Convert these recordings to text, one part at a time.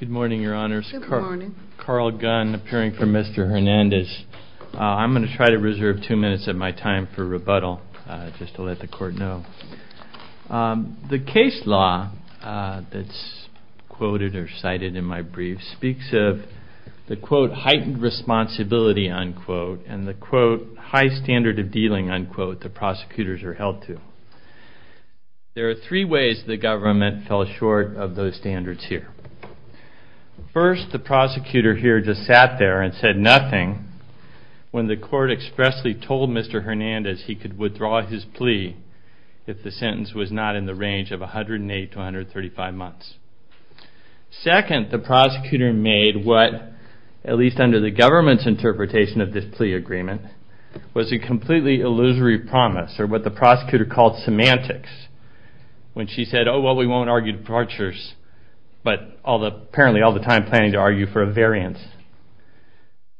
I'm going to try to reserve two minutes of my time for rebuttal, just to let the court know. The case law that's quoted or cited in my brief speaks of the First, the prosecutor here just sat there and said nothing when the court expressly told Mr. Hernandez he could withdraw his plea if the sentence was not in the range of 108 to 135 months. Second, the prosecutor made what, at least under the government's interpretation of this plea agreement, was a completely illusory promise, or what the prosecutor called semantics. When she said, oh well we won't argue departures, but apparently all the time planning to argue for a variance.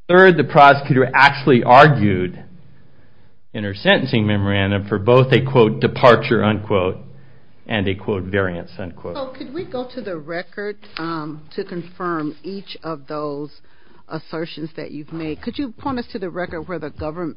Third, the prosecutor actually argued in her sentencing memorandum for both a, quote, departure, unquote, and a, quote, variance, unquote. So could we go to the record to confirm each of those assertions that you've made? Could you point us to the record where the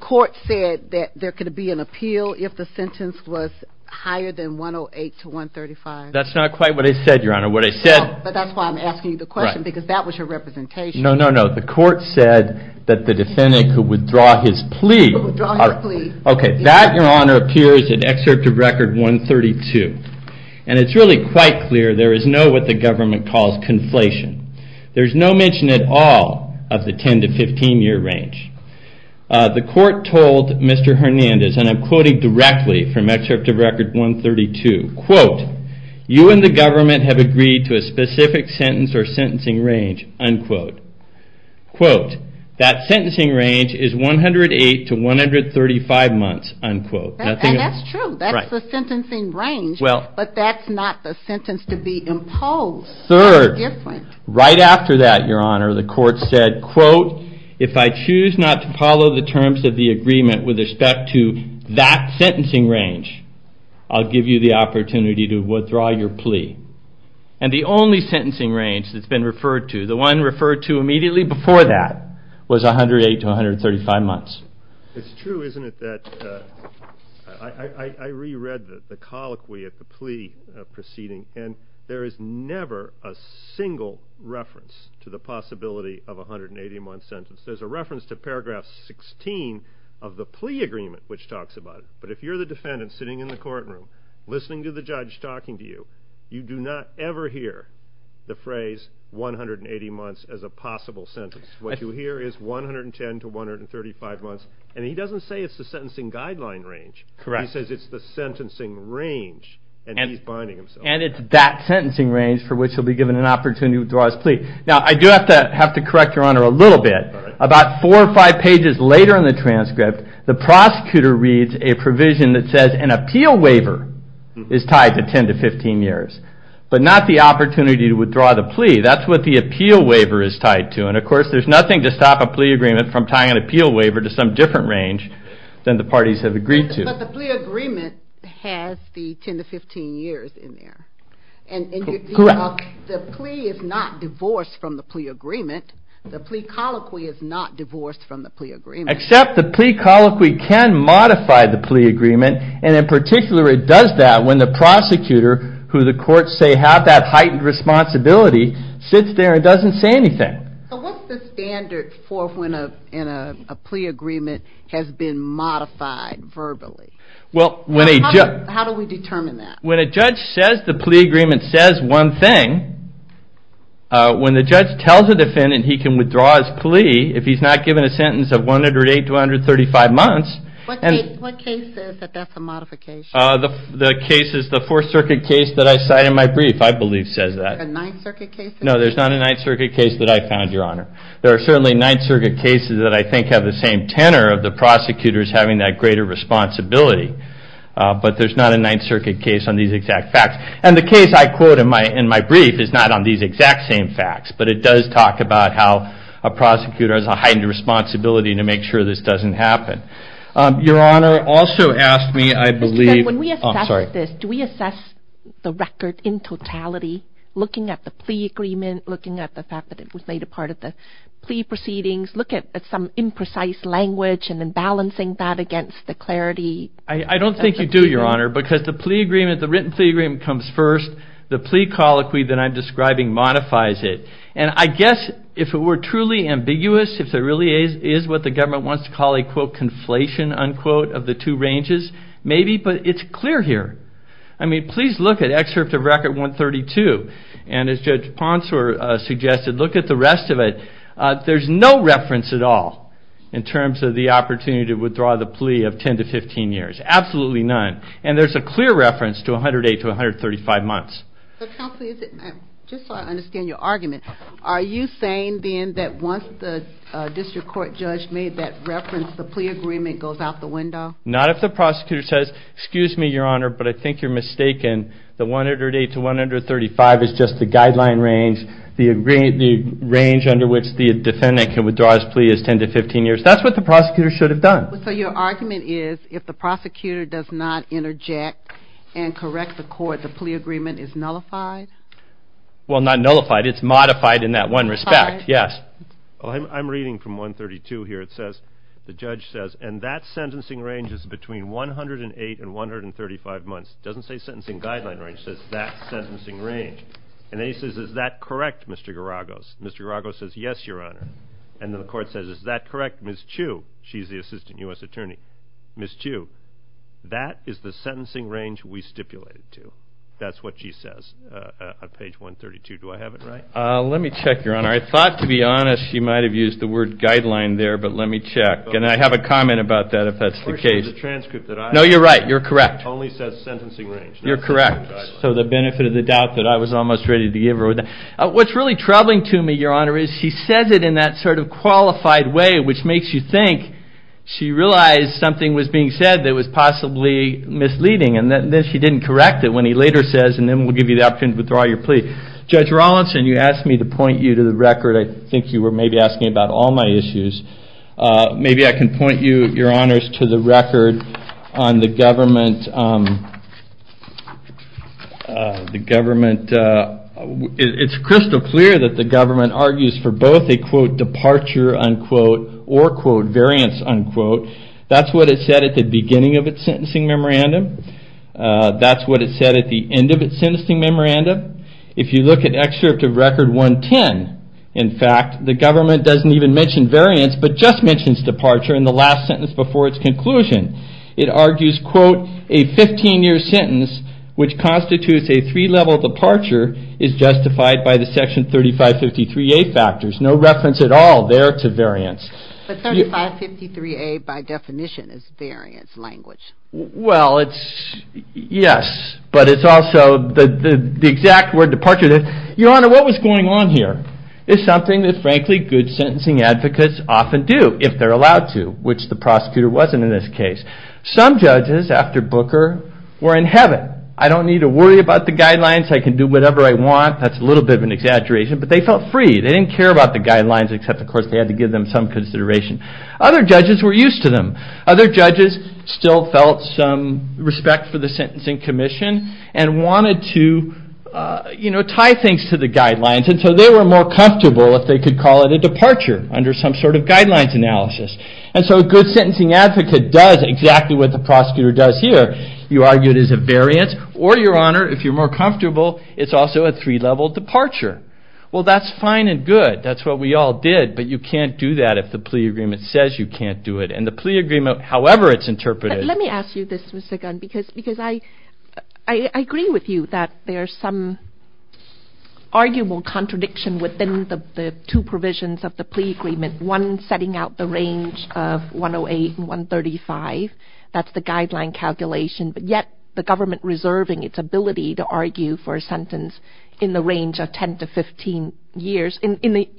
court said that there could be an appeal if the sentence was higher than 108 to 135? That's not quite what I said, Your Honor. But that's why I'm asking you the question, because that was your representation. No, no, no, the court said that the defendant could withdraw his plea. Okay, that, Your Honor, appears in Excerpt of Record 132, and it's really quite clear there is no what the government calls conflation. There's no mention at all of the 10 to 15 year range. The court told Mr. Hernandez, and I'm quoting directly from Excerpt of Record 132, quote, you and the government have agreed to a specific sentence or sentencing range, unquote. Quote, that sentencing range is 108 to 135 months, unquote. And that's true, that's the sentencing range, but that's not the sentence to be imposed. Third, right after that, Your Honor, the court said, quote, if I choose not to follow the terms of the agreement with respect to that sentencing range, I'll give you the opportunity to withdraw your plea. And the only sentencing range that's been referred to, the one referred to immediately before that, was 108 to 135 months. It's true, isn't it, that I reread the colloquy at the plea proceeding, and there is never a single reference to the possibility of a 180-month sentence. There's a reference to Paragraph 16 of the plea agreement which talks about it. But if you're the defendant sitting in the courtroom listening to the judge talking to you, you do not ever hear the phrase 180 months as a possible sentence. What you hear is 110 to 135 months. And he doesn't say it's the sentencing guideline range. Correct. He says it's the sentencing range, and he's binding himself. And it's that sentencing range for which he'll be given an opportunity to withdraw his plea. Now, I do have to correct Your Honor a little bit. About four or five pages later in the transcript, the prosecutor reads a provision that says an appeal waiver is tied to 10 to 15 years, but not the opportunity to withdraw the plea. That's what the appeal waiver is tied to. And, of course, there's nothing to stop a plea agreement from tying an appeal waiver to some different range than the parties have agreed to. But the plea agreement has the 10 to 15 years in there. Correct. The plea is not divorced from the plea agreement. The plea colloquy is not divorced from the plea agreement. Except the plea colloquy can modify the plea agreement. And, in particular, it does that when the prosecutor, who the courts say have that heightened responsibility, sits there and doesn't say anything. So what's the standard for when a plea agreement has been modified verbally? How do we determine that? When a judge says the plea agreement says one thing, when the judge tells a defendant he can withdraw his plea, if he's not given a sentence of 108 to 135 months. What case says that that's a modification? The case is the Fourth Circuit case that I cite in my brief, I believe says that. The Ninth Circuit case? No, there's not a Ninth Circuit case that I found, Your Honor. There are certainly Ninth Circuit cases that I think have the same tenor of the prosecutors having that greater responsibility. But there's not a Ninth Circuit case on these exact facts. And the case I quote in my brief is not on these exact same facts. But it does talk about how a prosecutor has a heightened responsibility to make sure this doesn't happen. Your Honor, also ask me, I believe... Mr. Kent, when we assess this, do we assess the record in totality, looking at the plea agreement, looking at the fact that it was made a part of the plea proceedings, look at some imprecise language and then balancing that against the clarity? I don't think you do, Your Honor, because the written plea agreement comes first. The plea colloquy that I'm describing modifies it. And I guess if it were truly ambiguous, if there really is what the government wants to call a, quote, conflation, unquote, of the two ranges, maybe, but it's clear here. I mean, please look at excerpt of Record 132. And as Judge Ponsor suggested, look at the rest of it. There's no reference at all in terms of the opportunity to withdraw the plea of 10 to 15 years. Absolutely none. And there's a clear reference to 108 to 135 months. Counsel, just so I understand your argument, are you saying then that once the district court judge made that reference, the plea agreement goes out the window? Not if the prosecutor says, excuse me, Your Honor, but I think you're mistaken. The 108 to 135 is just the guideline range. The range under which the defendant can withdraw his plea is 10 to 15 years. That's what the prosecutor should have done. So your argument is if the prosecutor does not interject and correct the court, the plea agreement is nullified? Well, not nullified. It's modified in that one respect, yes. I'm reading from 132 here. It says, the judge says, and that sentencing range is between 108 and 135 months. It doesn't say sentencing guideline range. It says that sentencing range. And then he says, is that correct, Mr. Garagos? Mr. Garagos says, yes, Your Honor. And then the court says, is that correct, Ms. Chu? She's the assistant U.S. attorney. Ms. Chu, that is the sentencing range we stipulated to. That's what she says on page 132. Do I have it right? Let me check, Your Honor. I thought, to be honest, she might have used the word guideline there, but let me check. And I have a comment about that if that's the case. The transcript that I have. No, you're right. You're correct. It only says sentencing range. You're correct. So the benefit of the doubt that I was almost ready to give her. What's really troubling to me, Your Honor, is she says it in that sort of qualified way, which makes you think she realized something was being said that was possibly misleading. And then she didn't correct it when he later says, and then we'll give you the opportunity to withdraw your plea. Judge Rawlinson, you asked me to point you to the record. I think you were maybe asking about all my issues. Maybe I can point you, Your Honors, to the record on the government. It's crystal clear that the government argues for both a, quote, departure, unquote, or, quote, variance, unquote. That's what it said at the beginning of its sentencing memorandum. That's what it said at the end of its sentencing memorandum. If you look at Excerpt of Record 110, in fact, the government doesn't even mention variance, but just mentions departure in the last sentence before its conclusion. It argues, quote, a 15-year sentence, which constitutes a three-level departure, is justified by the Section 3553A factors. No reference at all there to variance. But 3553A, by definition, is variance language. Well, yes, but it's also the exact word departure is. Your Honor, what was going on here? It's something that, frankly, good sentencing advocates often do, if they're allowed to, which the prosecutor wasn't in this case. Some judges, after Booker, were in heaven. I don't need to worry about the guidelines. I can do whatever I want. That's a little bit of an exaggeration, but they felt free. They didn't care about the guidelines, except, of course, they had to give them some consideration. Other judges were used to them. Other judges still felt some respect for the sentencing commission and wanted to tie things to the guidelines, and so they were more comfortable if they could call it a departure under some sort of guidelines analysis. And so a good sentencing advocate does exactly what the prosecutor does here. You argue it is a variance, or, Your Honor, if you're more comfortable, it's also a three-level departure. Well, that's fine and good. That's what we all did, but you can't do that if the plea agreement says you can't do it. And the plea agreement, however it's interpreted... Let me ask you this, Mr. Gunn, because I agree with you that there's some arguable contradiction within the two provisions of the plea agreement, one setting out the range of 108 and 135. That's the guideline calculation, but yet the government reserving its ability to argue for a sentence in the range of 10 to 15 years in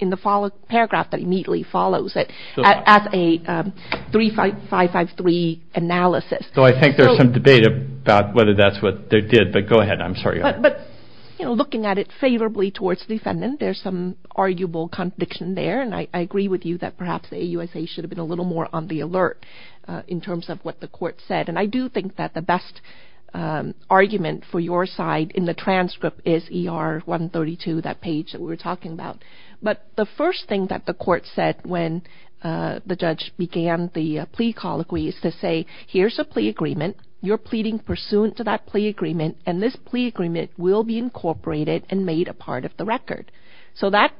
the paragraph that immediately follows it as a 3553 analysis. So I think there's some debate about whether that's what they did, but go ahead. I'm sorry, Your Honor. But looking at it favorably towards the defendant, there's some arguable contradiction there, and I agree with you that perhaps the AUSA should have been a little more on the alert in terms of what the court said. And I do think that the best argument for your side in the transcript is ER 132, that page that we were talking about. But the first thing that the court said when the judge began the plea colloquy is to say, here's a plea agreement, you're pleading pursuant to that plea agreement, and this plea agreement will be incorporated and made a part of the record. So that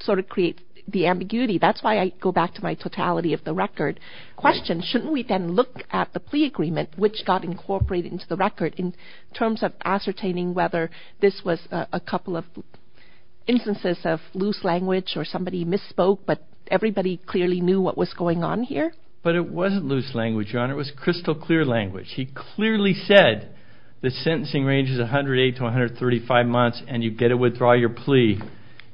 sort of creates the ambiguity. That's why I go back to my totality of the record question. Shouldn't we then look at the plea agreement which got incorporated into the record in terms of ascertaining whether this was a couple of instances of loose language or somebody misspoke, but everybody clearly knew what was going on here? But it wasn't loose language, Your Honor. It was crystal clear language. He clearly said the sentencing range is 108 to 135 months, and you get to withdraw your plea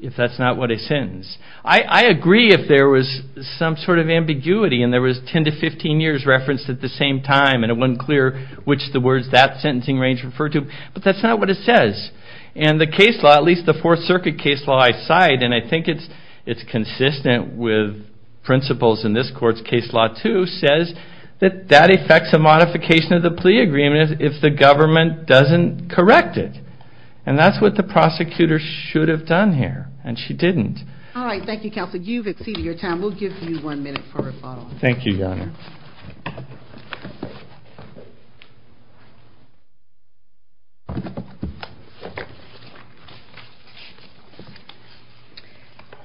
if that's not what is sentenced. I agree if there was some sort of ambiguity and there was 10 to 15 years referenced at the same time, and it wasn't clear which of the words that sentencing range referred to, but that's not what it says. And the case law, at least the Fourth Circuit case law I cite, and I think it's consistent with principles in this court's case law too, says that that affects a modification of the plea agreement if the government doesn't correct it. And that's what the prosecutor should have done here, and she didn't. All right, thank you, Counselor. You've exceeded your time. Thank you, Your Honor. Thank you.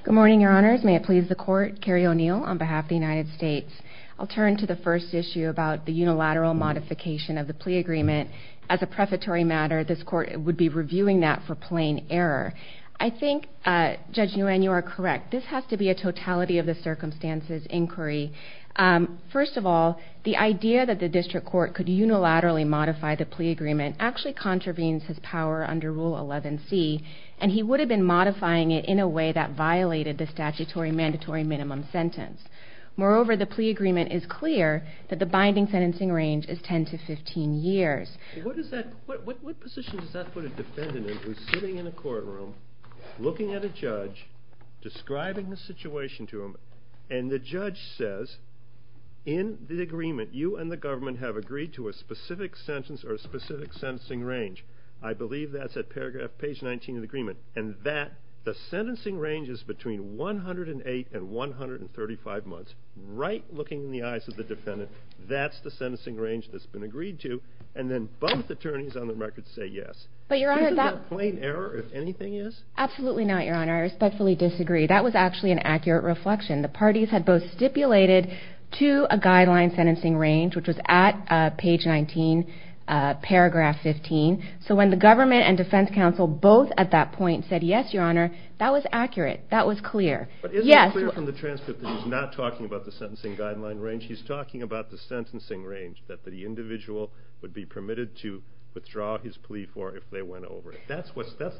Good morning, Your Honors. May it please the Court, Carrie O'Neill on behalf of the United States. I'll turn to the first issue about the unilateral modification of the plea agreement. As a prefatory matter, this court would be reviewing that for plain error. I think, Judge Nguyen, you are correct. This has to be a totality of the circumstances inquiry. First of all, the idea that the district court could unilaterally modify the plea agreement actually contravenes his power under Rule 11c, and he would have been modifying it in a way that violated the statutory mandatory minimum sentence. Moreover, the plea agreement is clear that the binding sentencing range is 10 to 15 years. What position does that put a defendant in who's sitting in a courtroom, looking at a judge, describing the situation to him, and the judge says, in the agreement, you and the government have agreed to a specific sentence or a specific sentencing range. I believe that's at page 19 of the agreement, and the sentencing range is between 108 and 135 months, right looking in the eyes of the defendant. That's the sentencing range that's been agreed to, and then both attorneys on the record say yes. But, Your Honor, that... Isn't that plain error, if anything is? Absolutely not, Your Honor. I respectfully disagree. That was actually an accurate reflection. The parties had both stipulated to a guideline sentencing range, which was at page 19, paragraph 15. So when the government and defense counsel both at that point said yes, Your Honor, that was accurate. That was clear. But isn't it clear from the transcript that he's not talking about the sentencing guideline range? He's talking about the sentencing range that the individual would be permitted to withdraw his plea for if they went over it. That's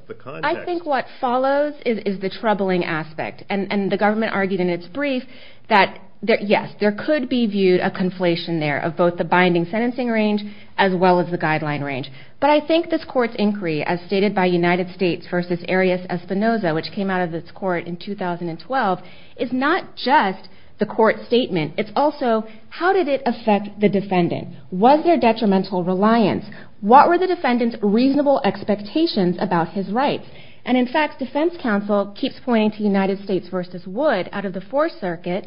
the context. I think what follows is the troubling aspect, and the government argued in its brief that, yes, there could be viewed a conflation there of both the binding sentencing range as well as the guideline range. But I think this court's inquiry, as stated by United States v. Arias Espinoza, which came out of this court in 2012, is not just the court's statement. It's also, how did it affect the defendant? Was there detrimental reliance? What were the defendant's reasonable expectations about his rights? And, in fact, defense counsel keeps pointing to United States v. Wood out of the Fourth Circuit.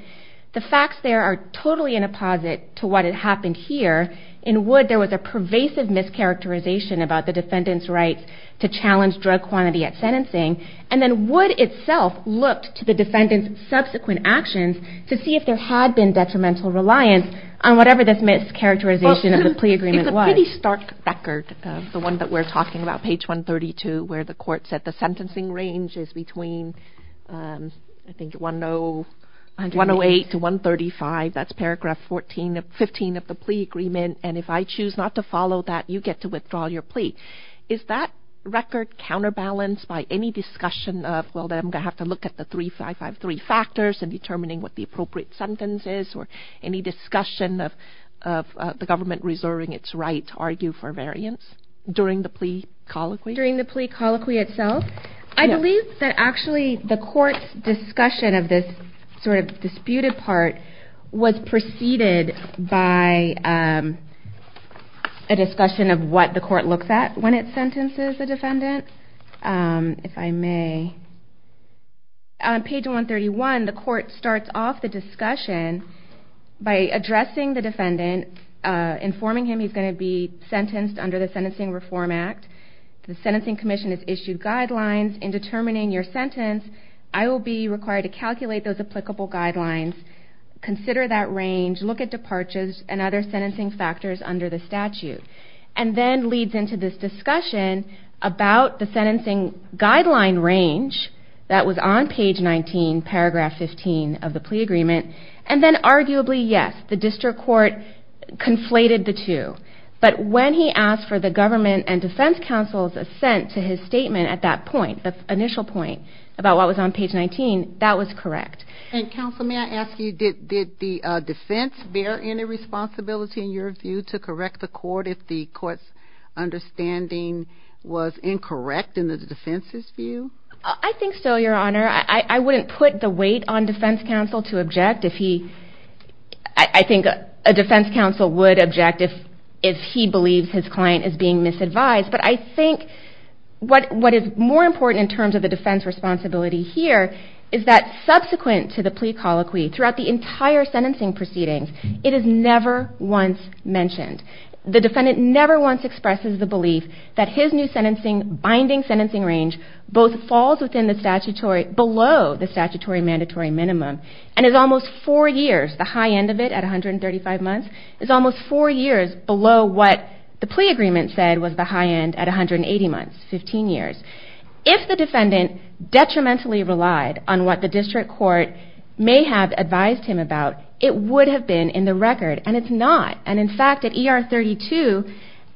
The facts there are totally in apposite to what had happened here. In Wood, there was a pervasive mischaracterization about the defendant's rights to challenge drug quantity at sentencing. And then Wood itself looked to the defendant's subsequent actions to see if there had been detrimental reliance on whatever this mischaracterization of the plea agreement was. It's a pretty stark record, the one that we're talking about, page 132, where the court said the sentencing range is between, I think, 108 to 135. That's paragraph 15 of the plea agreement. And if I choose not to follow that, you get to withdraw your plea. Is that record counterbalanced by any discussion of, well, then I'm going to have to look at the 3553 factors in determining what the appropriate sentence is or any discussion of the government reserving its right to argue for variance during the plea colloquy? During the plea colloquy itself? I believe that actually the court's discussion of this sort of disputed part was preceded by a discussion of what the court looks at when it sentences the defendant. If I may. On page 131, the court starts off the discussion by addressing the defendant, informing him he's going to be sentenced under the Sentencing Reform Act. The Sentencing Commission has issued guidelines in determining your sentence. I will be required to calculate those applicable guidelines, consider that range, look at departures and other sentencing factors under the statute. And then leads into this discussion about the sentencing guideline range that was on page 19, paragraph 15 of the plea agreement. And then arguably, yes, the district court conflated the two. But when he asked for the government and defense counsel's assent to his statement at that point, the initial point about what was on page 19, that was correct. And counsel, may I ask you, did the defense bear any responsibility, in your view, to correct the court if the court's understanding was incorrect in the defense's view? I think so, Your Honor. I wouldn't put the weight on defense counsel to object. I think a defense counsel would object if he believes his client is being misadvised. But I think what is more important in terms of the defense responsibility here is that subsequent to the plea colloquy, throughout the entire sentencing proceedings, it is never once mentioned. The defendant never once expresses the belief that his new binding sentencing range both falls below the statutory mandatory minimum and is almost four years, the high end of it at 135 months, is almost four years below what the plea agreement said was the high end at 180 months, 15 years. If the defendant detrimentally relied on what the district court may have advised him about, it would have been in the record, and it's not. And in fact, at ER 32,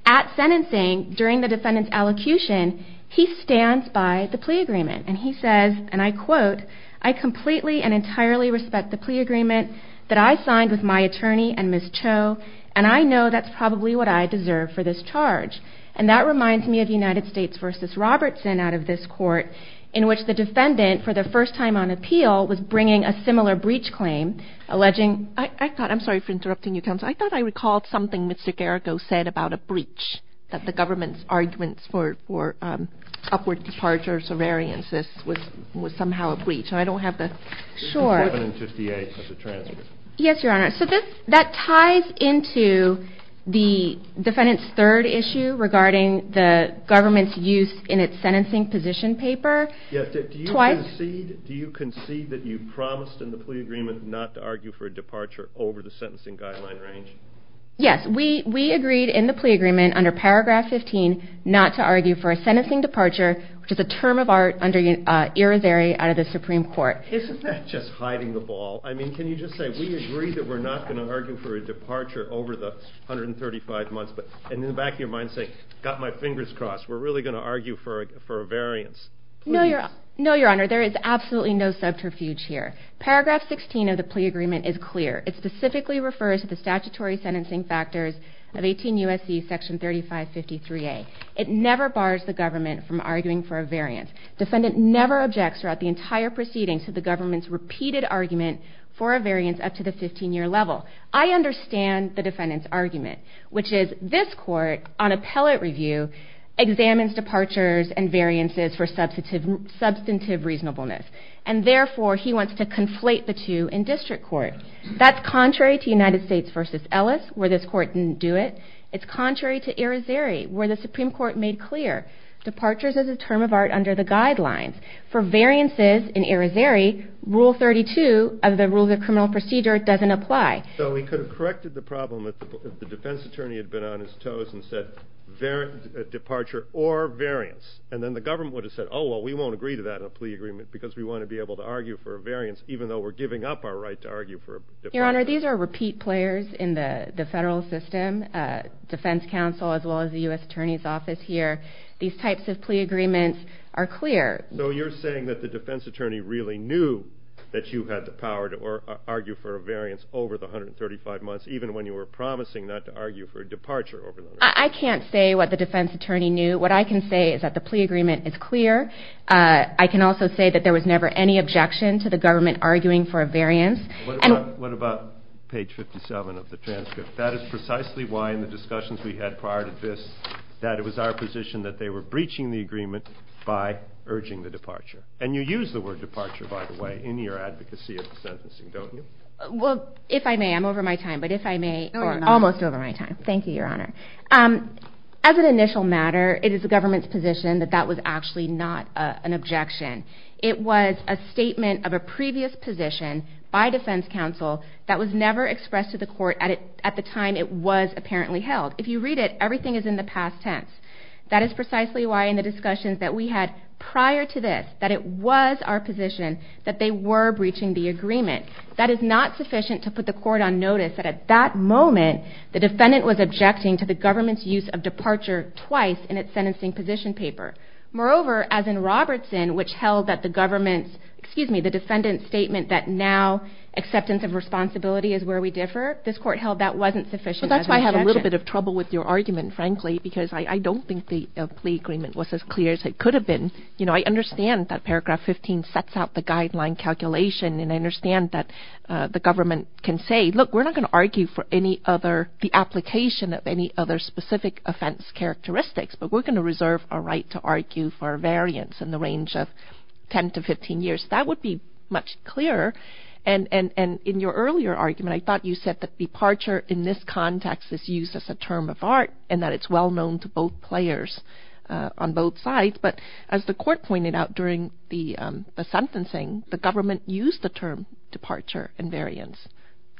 at sentencing, during the defendant's allocution, he stands by the plea agreement, and he says, and I quote, I completely and entirely respect the plea agreement that I signed with my attorney and Ms. Cho, and I know that's probably what I deserve for this charge. And that reminds me of United States v. Robertson out of this court, in which the defendant, for the first time on appeal, was bringing a similar breach claim, alleging, I thought, I'm sorry for interrupting you, counsel, I thought I recalled something Mr. Geragos said about a breach, that the government's arguments for upward departure of surveillance, this was somehow a breach, and I don't have the short. It's 11 and 58, that's a transfer. Yes, Your Honor, so that ties into the defendant's third issue regarding the government's use in its sentencing position paper. Do you concede that you promised in the plea agreement not to argue for a departure over the sentencing guideline range? Yes, we agreed in the plea agreement under Paragraph 15 not to argue for a sentencing departure, which is a term of art, under Irizarry out of the Supreme Court. Isn't that just hiding the ball? I mean, can you just say, we agree that we're not going to argue for a departure over the 135 months, and in the back of your mind say, got my fingers crossed, we're really going to argue for a variance. No, Your Honor, there is absolutely no subterfuge here. Paragraph 16 of the plea agreement is clear. It specifically refers to the statutory sentencing factors of 18 U.S.C. section 3553A. It never bars the government from arguing for a variance. Defendant never objects throughout the entire proceedings to the government's repeated argument for a variance up to the 15-year level. I understand the defendant's argument, which is this court, on appellate review, examines departures and variances for substantive reasonableness, and therefore he wants to conflate the two in district court. That's contrary to United States v. Ellis, where this court didn't do it. It's contrary to Irizarry, where the Supreme Court made clear departures is a term of art under the guidelines. For variances in Irizarry, Rule 32 of the Rules of Criminal Procedure doesn't apply. So he could have corrected the problem if the defense attorney had been on his toes and said departure or variance, and then the government would have said, oh, well, we won't agree to that in a plea agreement because we want to be able to argue for a variance even though we're giving up our right to argue for a departure. Your Honor, these are repeat players in the federal system, defense counsel as well as the U.S. Attorney's Office here. These types of plea agreements are clear. So you're saying that the defense attorney really knew that you had the power to argue for a variance over the 135 months, even when you were promising not to argue for a departure over the 135 months? I can't say what the defense attorney knew. What I can say is that the plea agreement is clear. I can also say that there was never any objection to the government arguing for a variance. What about page 57 of the transcript? That is precisely why in the discussions we had prior to this that it was our position that they were breaching the agreement by urging the departure. And you use the word departure, by the way, in your advocacy of the sentencing, don't you? Well, if I may, I'm over my time, but if I may, almost over my time. Thank you, Your Honor. As an initial matter, it is the government's position that that was actually not an objection. It was a statement of a previous position by defense counsel that was never expressed to the court at the time it was apparently held. If you read it, everything is in the past tense. That is precisely why in the discussions that we had prior to this that it was our position that they were breaching the agreement. That is not sufficient to put the court on notice that at that moment the defendant was objecting to the government's use of departure twice in its sentencing position paper. Moreover, as in Robertson, which held that the government's, excuse me, the defendant's statement that now acceptance of responsibility is where we differ, this court held that wasn't sufficient as an objection. I'm having a little bit of trouble with your argument, frankly, because I don't think the plea agreement was as clear as it could have been. You know, I understand that paragraph 15 sets out the guideline calculation, and I understand that the government can say, look, we're not going to argue for any other, the application of any other specific offense characteristics, but we're going to reserve our right to argue for a variance in the range of 10 to 15 years. That would be much clearer. And in your earlier argument, I thought you said that departure in this context is used as a term of art and that it's well known to both players on both sides, but as the court pointed out during the sentencing, the government used the term departure and variance.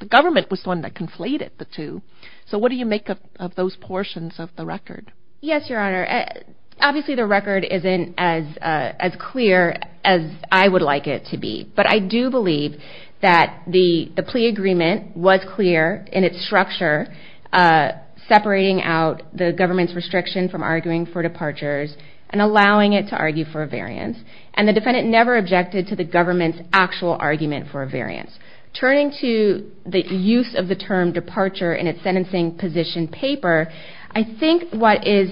The government was the one that conflated the two. So what do you make of those portions of the record? Yes, Your Honor. Obviously, the record isn't as clear as I would like it to be, but I do believe that the plea agreement was clear in its structure, separating out the government's restriction from arguing for departures and allowing it to argue for a variance, and the defendant never objected to the government's actual argument for a variance. Turning to the use of the term departure in its sentencing position paper, I think what is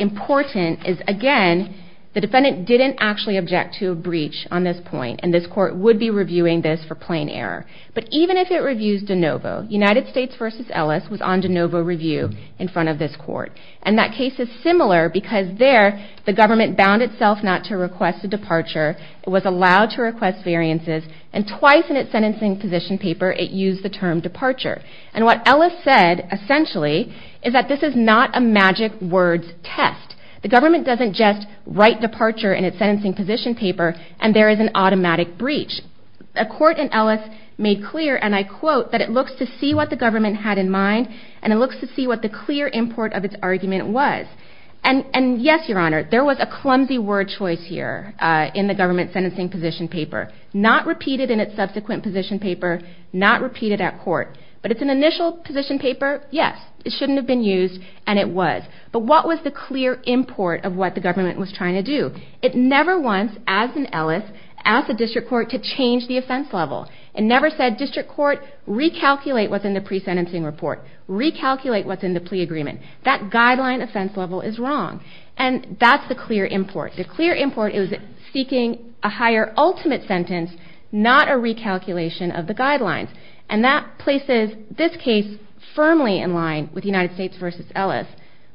important is, again, the defendant didn't actually object to a breach on this point, and this court would be reviewing this for plain error. But even if it reviews DeNovo, United States v. Ellis was on DeNovo review in front of this court, and that case is similar because there, the government bound itself not to request a departure, it was allowed to request variances, and twice in its sentencing position paper it used the term departure. And what Ellis said, essentially, is that this is not a magic words test. The government doesn't just write departure in its sentencing position paper and there is an automatic breach. A court in Ellis made clear, and I quote, that it looks to see what the government had in mind and it looks to see what the clear import of its argument was. And yes, Your Honor, there was a clumsy word choice here in the government sentencing position paper. Not repeated in its subsequent position paper, not repeated at court. But it's an initial position paper, yes, it shouldn't have been used, and it was. But what was the clear import of what the government was trying to do? It never once, as in Ellis, asked the district court to change the offense level. It never said, District Court, recalculate what's in the pre-sentencing report. Recalculate what's in the plea agreement. That guideline offense level is wrong. And that's the clear import. The clear import is seeking a higher ultimate sentence, not a recalculation of the guidelines. And that places this case firmly in line with United States v. Ellis,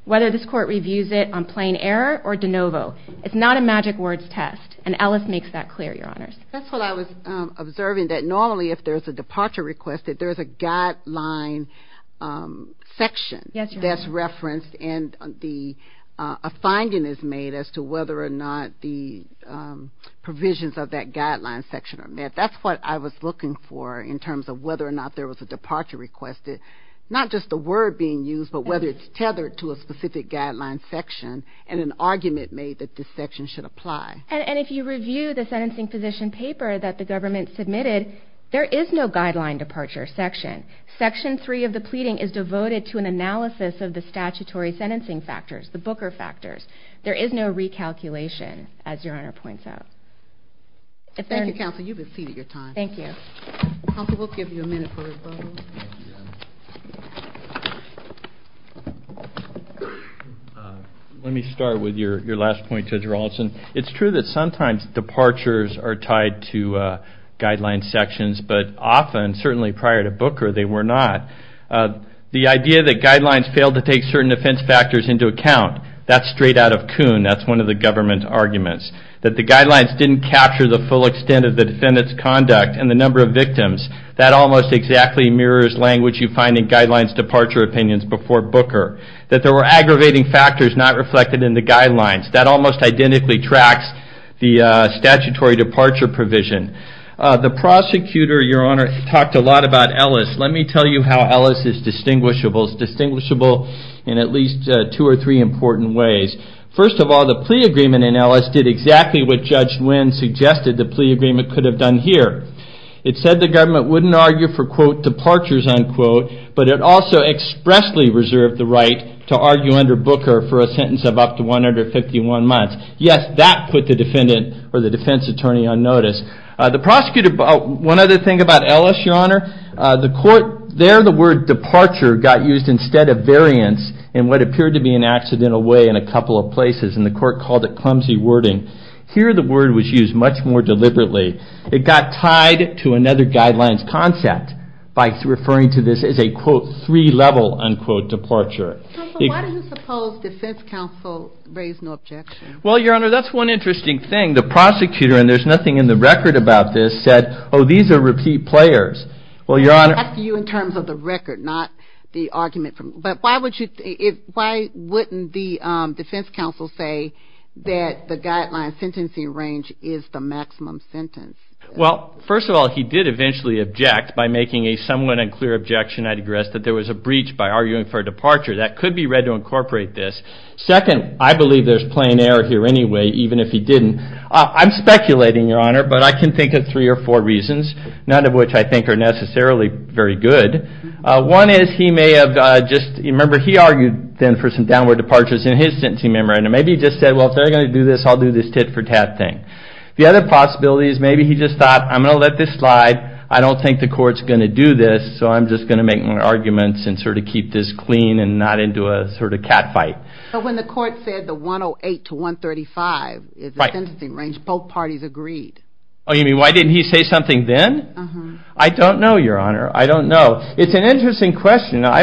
whether this court reviews it on plain error or de novo. It's not a magic words test, and Ellis makes that clear, Your Honors. That's what I was observing, that normally if there's a departure request, that there's a guideline section that's referenced and a finding is made as to whether or not the provisions of that guideline section are met. That's what I was looking for in terms of whether or not there was a departure request. Not just the word being used, but whether it's tethered to a specific guideline section and an argument made that this section should apply. And if you review the sentencing position paper that the government submitted, there is no guideline departure section. Section 3 of the pleading is devoted to an analysis of the statutory sentencing factors, the Booker factors. There is no recalculation, as Your Honor points out. Thank you, Counsel. You've exceeded your time. Thank you. Counsel, we'll give you a minute for rebuttals. Let me start with your last point, Judge Rawlinson. It's true that sometimes departures are tied to guideline sections, but often, certainly prior to Booker, they were not. The idea that guidelines failed to take certain defense factors into account, that's straight out of Kuhn. That's one of the government's arguments, that the guidelines didn't capture the full extent of the defendant's conduct and the number of victims. That almost exactly mirrors language you find in guidelines departure opinions before Booker, that there were aggravating factors not reflected in the guidelines. That almost identically tracks the statutory departure provision. The prosecutor, Your Honor, talked a lot about Ellis. Let me tell you how Ellis is distinguishable. It's distinguishable in at least two or three important ways. First of all, the plea agreement in Ellis did exactly what Judge Nguyen suggested the plea agreement could have done here. It said the government wouldn't argue for, quote, departures, unquote, but it also expressly reserved the right to argue under Booker for a sentence of up to 151 months. Yes, that put the defendant or the defense attorney on notice. The prosecutor, one other thing about Ellis, Your Honor, the court, there the word departure got used instead of variance in what appeared to be an accidental way in a couple of places, and the court called it clumsy wording. Here the word was used much more deliberately. It got tied to another guideline's concept by referring to this as a, quote, three-level, unquote, departure. Why do you suppose defense counsel raised no objection? Well, Your Honor, that's one interesting thing. The prosecutor, and there's nothing in the record about this, said, oh, these are repeat players. Well, Your Honor. I'm asking you in terms of the record, not the argument. But why wouldn't the defense counsel say that the guideline sentencing range is the maximum sentence? Well, first of all, he did eventually object by making a somewhat unclear objection, I digress, that there was a breach by arguing for a departure. That could be read to incorporate this. Second, I believe there's plain error here anyway, even if he didn't. I'm speculating, Your Honor, but I can think of three or four reasons, none of which I think are necessarily very good. One is he may have just, remember he argued then for some downward departures in his sentencing memorandum. Maybe he just said, well, if they're going to do this, I'll do this tit-for-tat thing. The other possibility is maybe he just thought, I'm going to let this slide. I don't think the court's going to do this, so I'm just going to make my arguments and sort of keep this clean and not into a sort of cat fight. But when the court said the 108 to 135 is the sentencing range, both parties agreed. Oh, you mean why didn't he say something then? I don't know, Your Honor. I don't know. It's an interesting question. I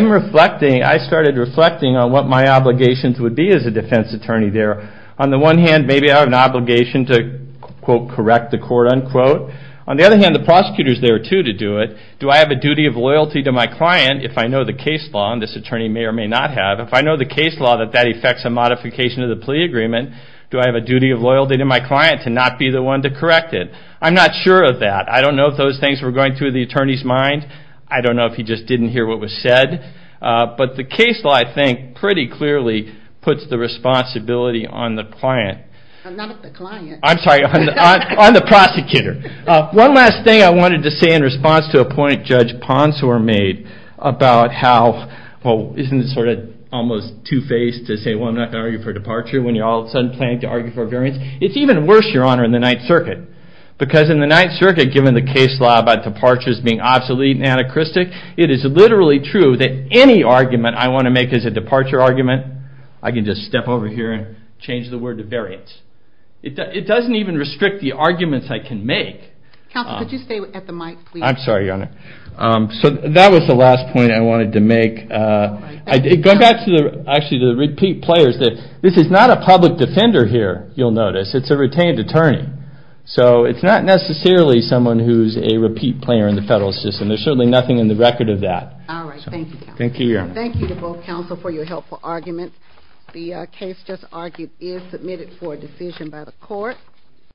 started reflecting on what my obligations would be as a defense attorney there. On the one hand, maybe I have an obligation to, quote, correct the court, unquote. On the other hand, the prosecutor's there too to do it. Do I have a duty of loyalty to my client if I know the case law, and this attorney may or may not have, if I know the case law that that affects a modification of the plea agreement, do I have a duty of loyalty to my client to not be the one to correct it? I'm not sure of that. I don't know if those things were going through the attorney's mind. I don't know if he just didn't hear what was said. But the case law, I think, pretty clearly puts the responsibility on the client. Not on the client. I'm sorry, on the prosecutor. One last thing I wanted to say in response to a point Judge Ponsor made about how, well, isn't it sort of almost two-faced to say, well, I'm not going to argue for departure when you're all of a sudden planning to argue for a variance? It's even worse, Your Honor, in the Ninth Circuit, because in the Ninth Circuit, given the case law about departures being obsolete and anachristic, it is literally true that any argument I want to make as a departure argument, I can just step over here and change the word to variance. It doesn't even restrict the arguments I can make. Counsel, could you stay at the mic, please? I'm sorry, Your Honor. So that was the last point I wanted to make. Actually, to repeat players, this is not a public defender here, you'll notice. It's a retained attorney. So it's not necessarily someone who's a repeat player in the federal system. There's certainly nothing in the record of that. All right, thank you. Thank you, Your Honor. Thank you to both counsel for your helpful argument. The case just argued is submitted for a decision by the court.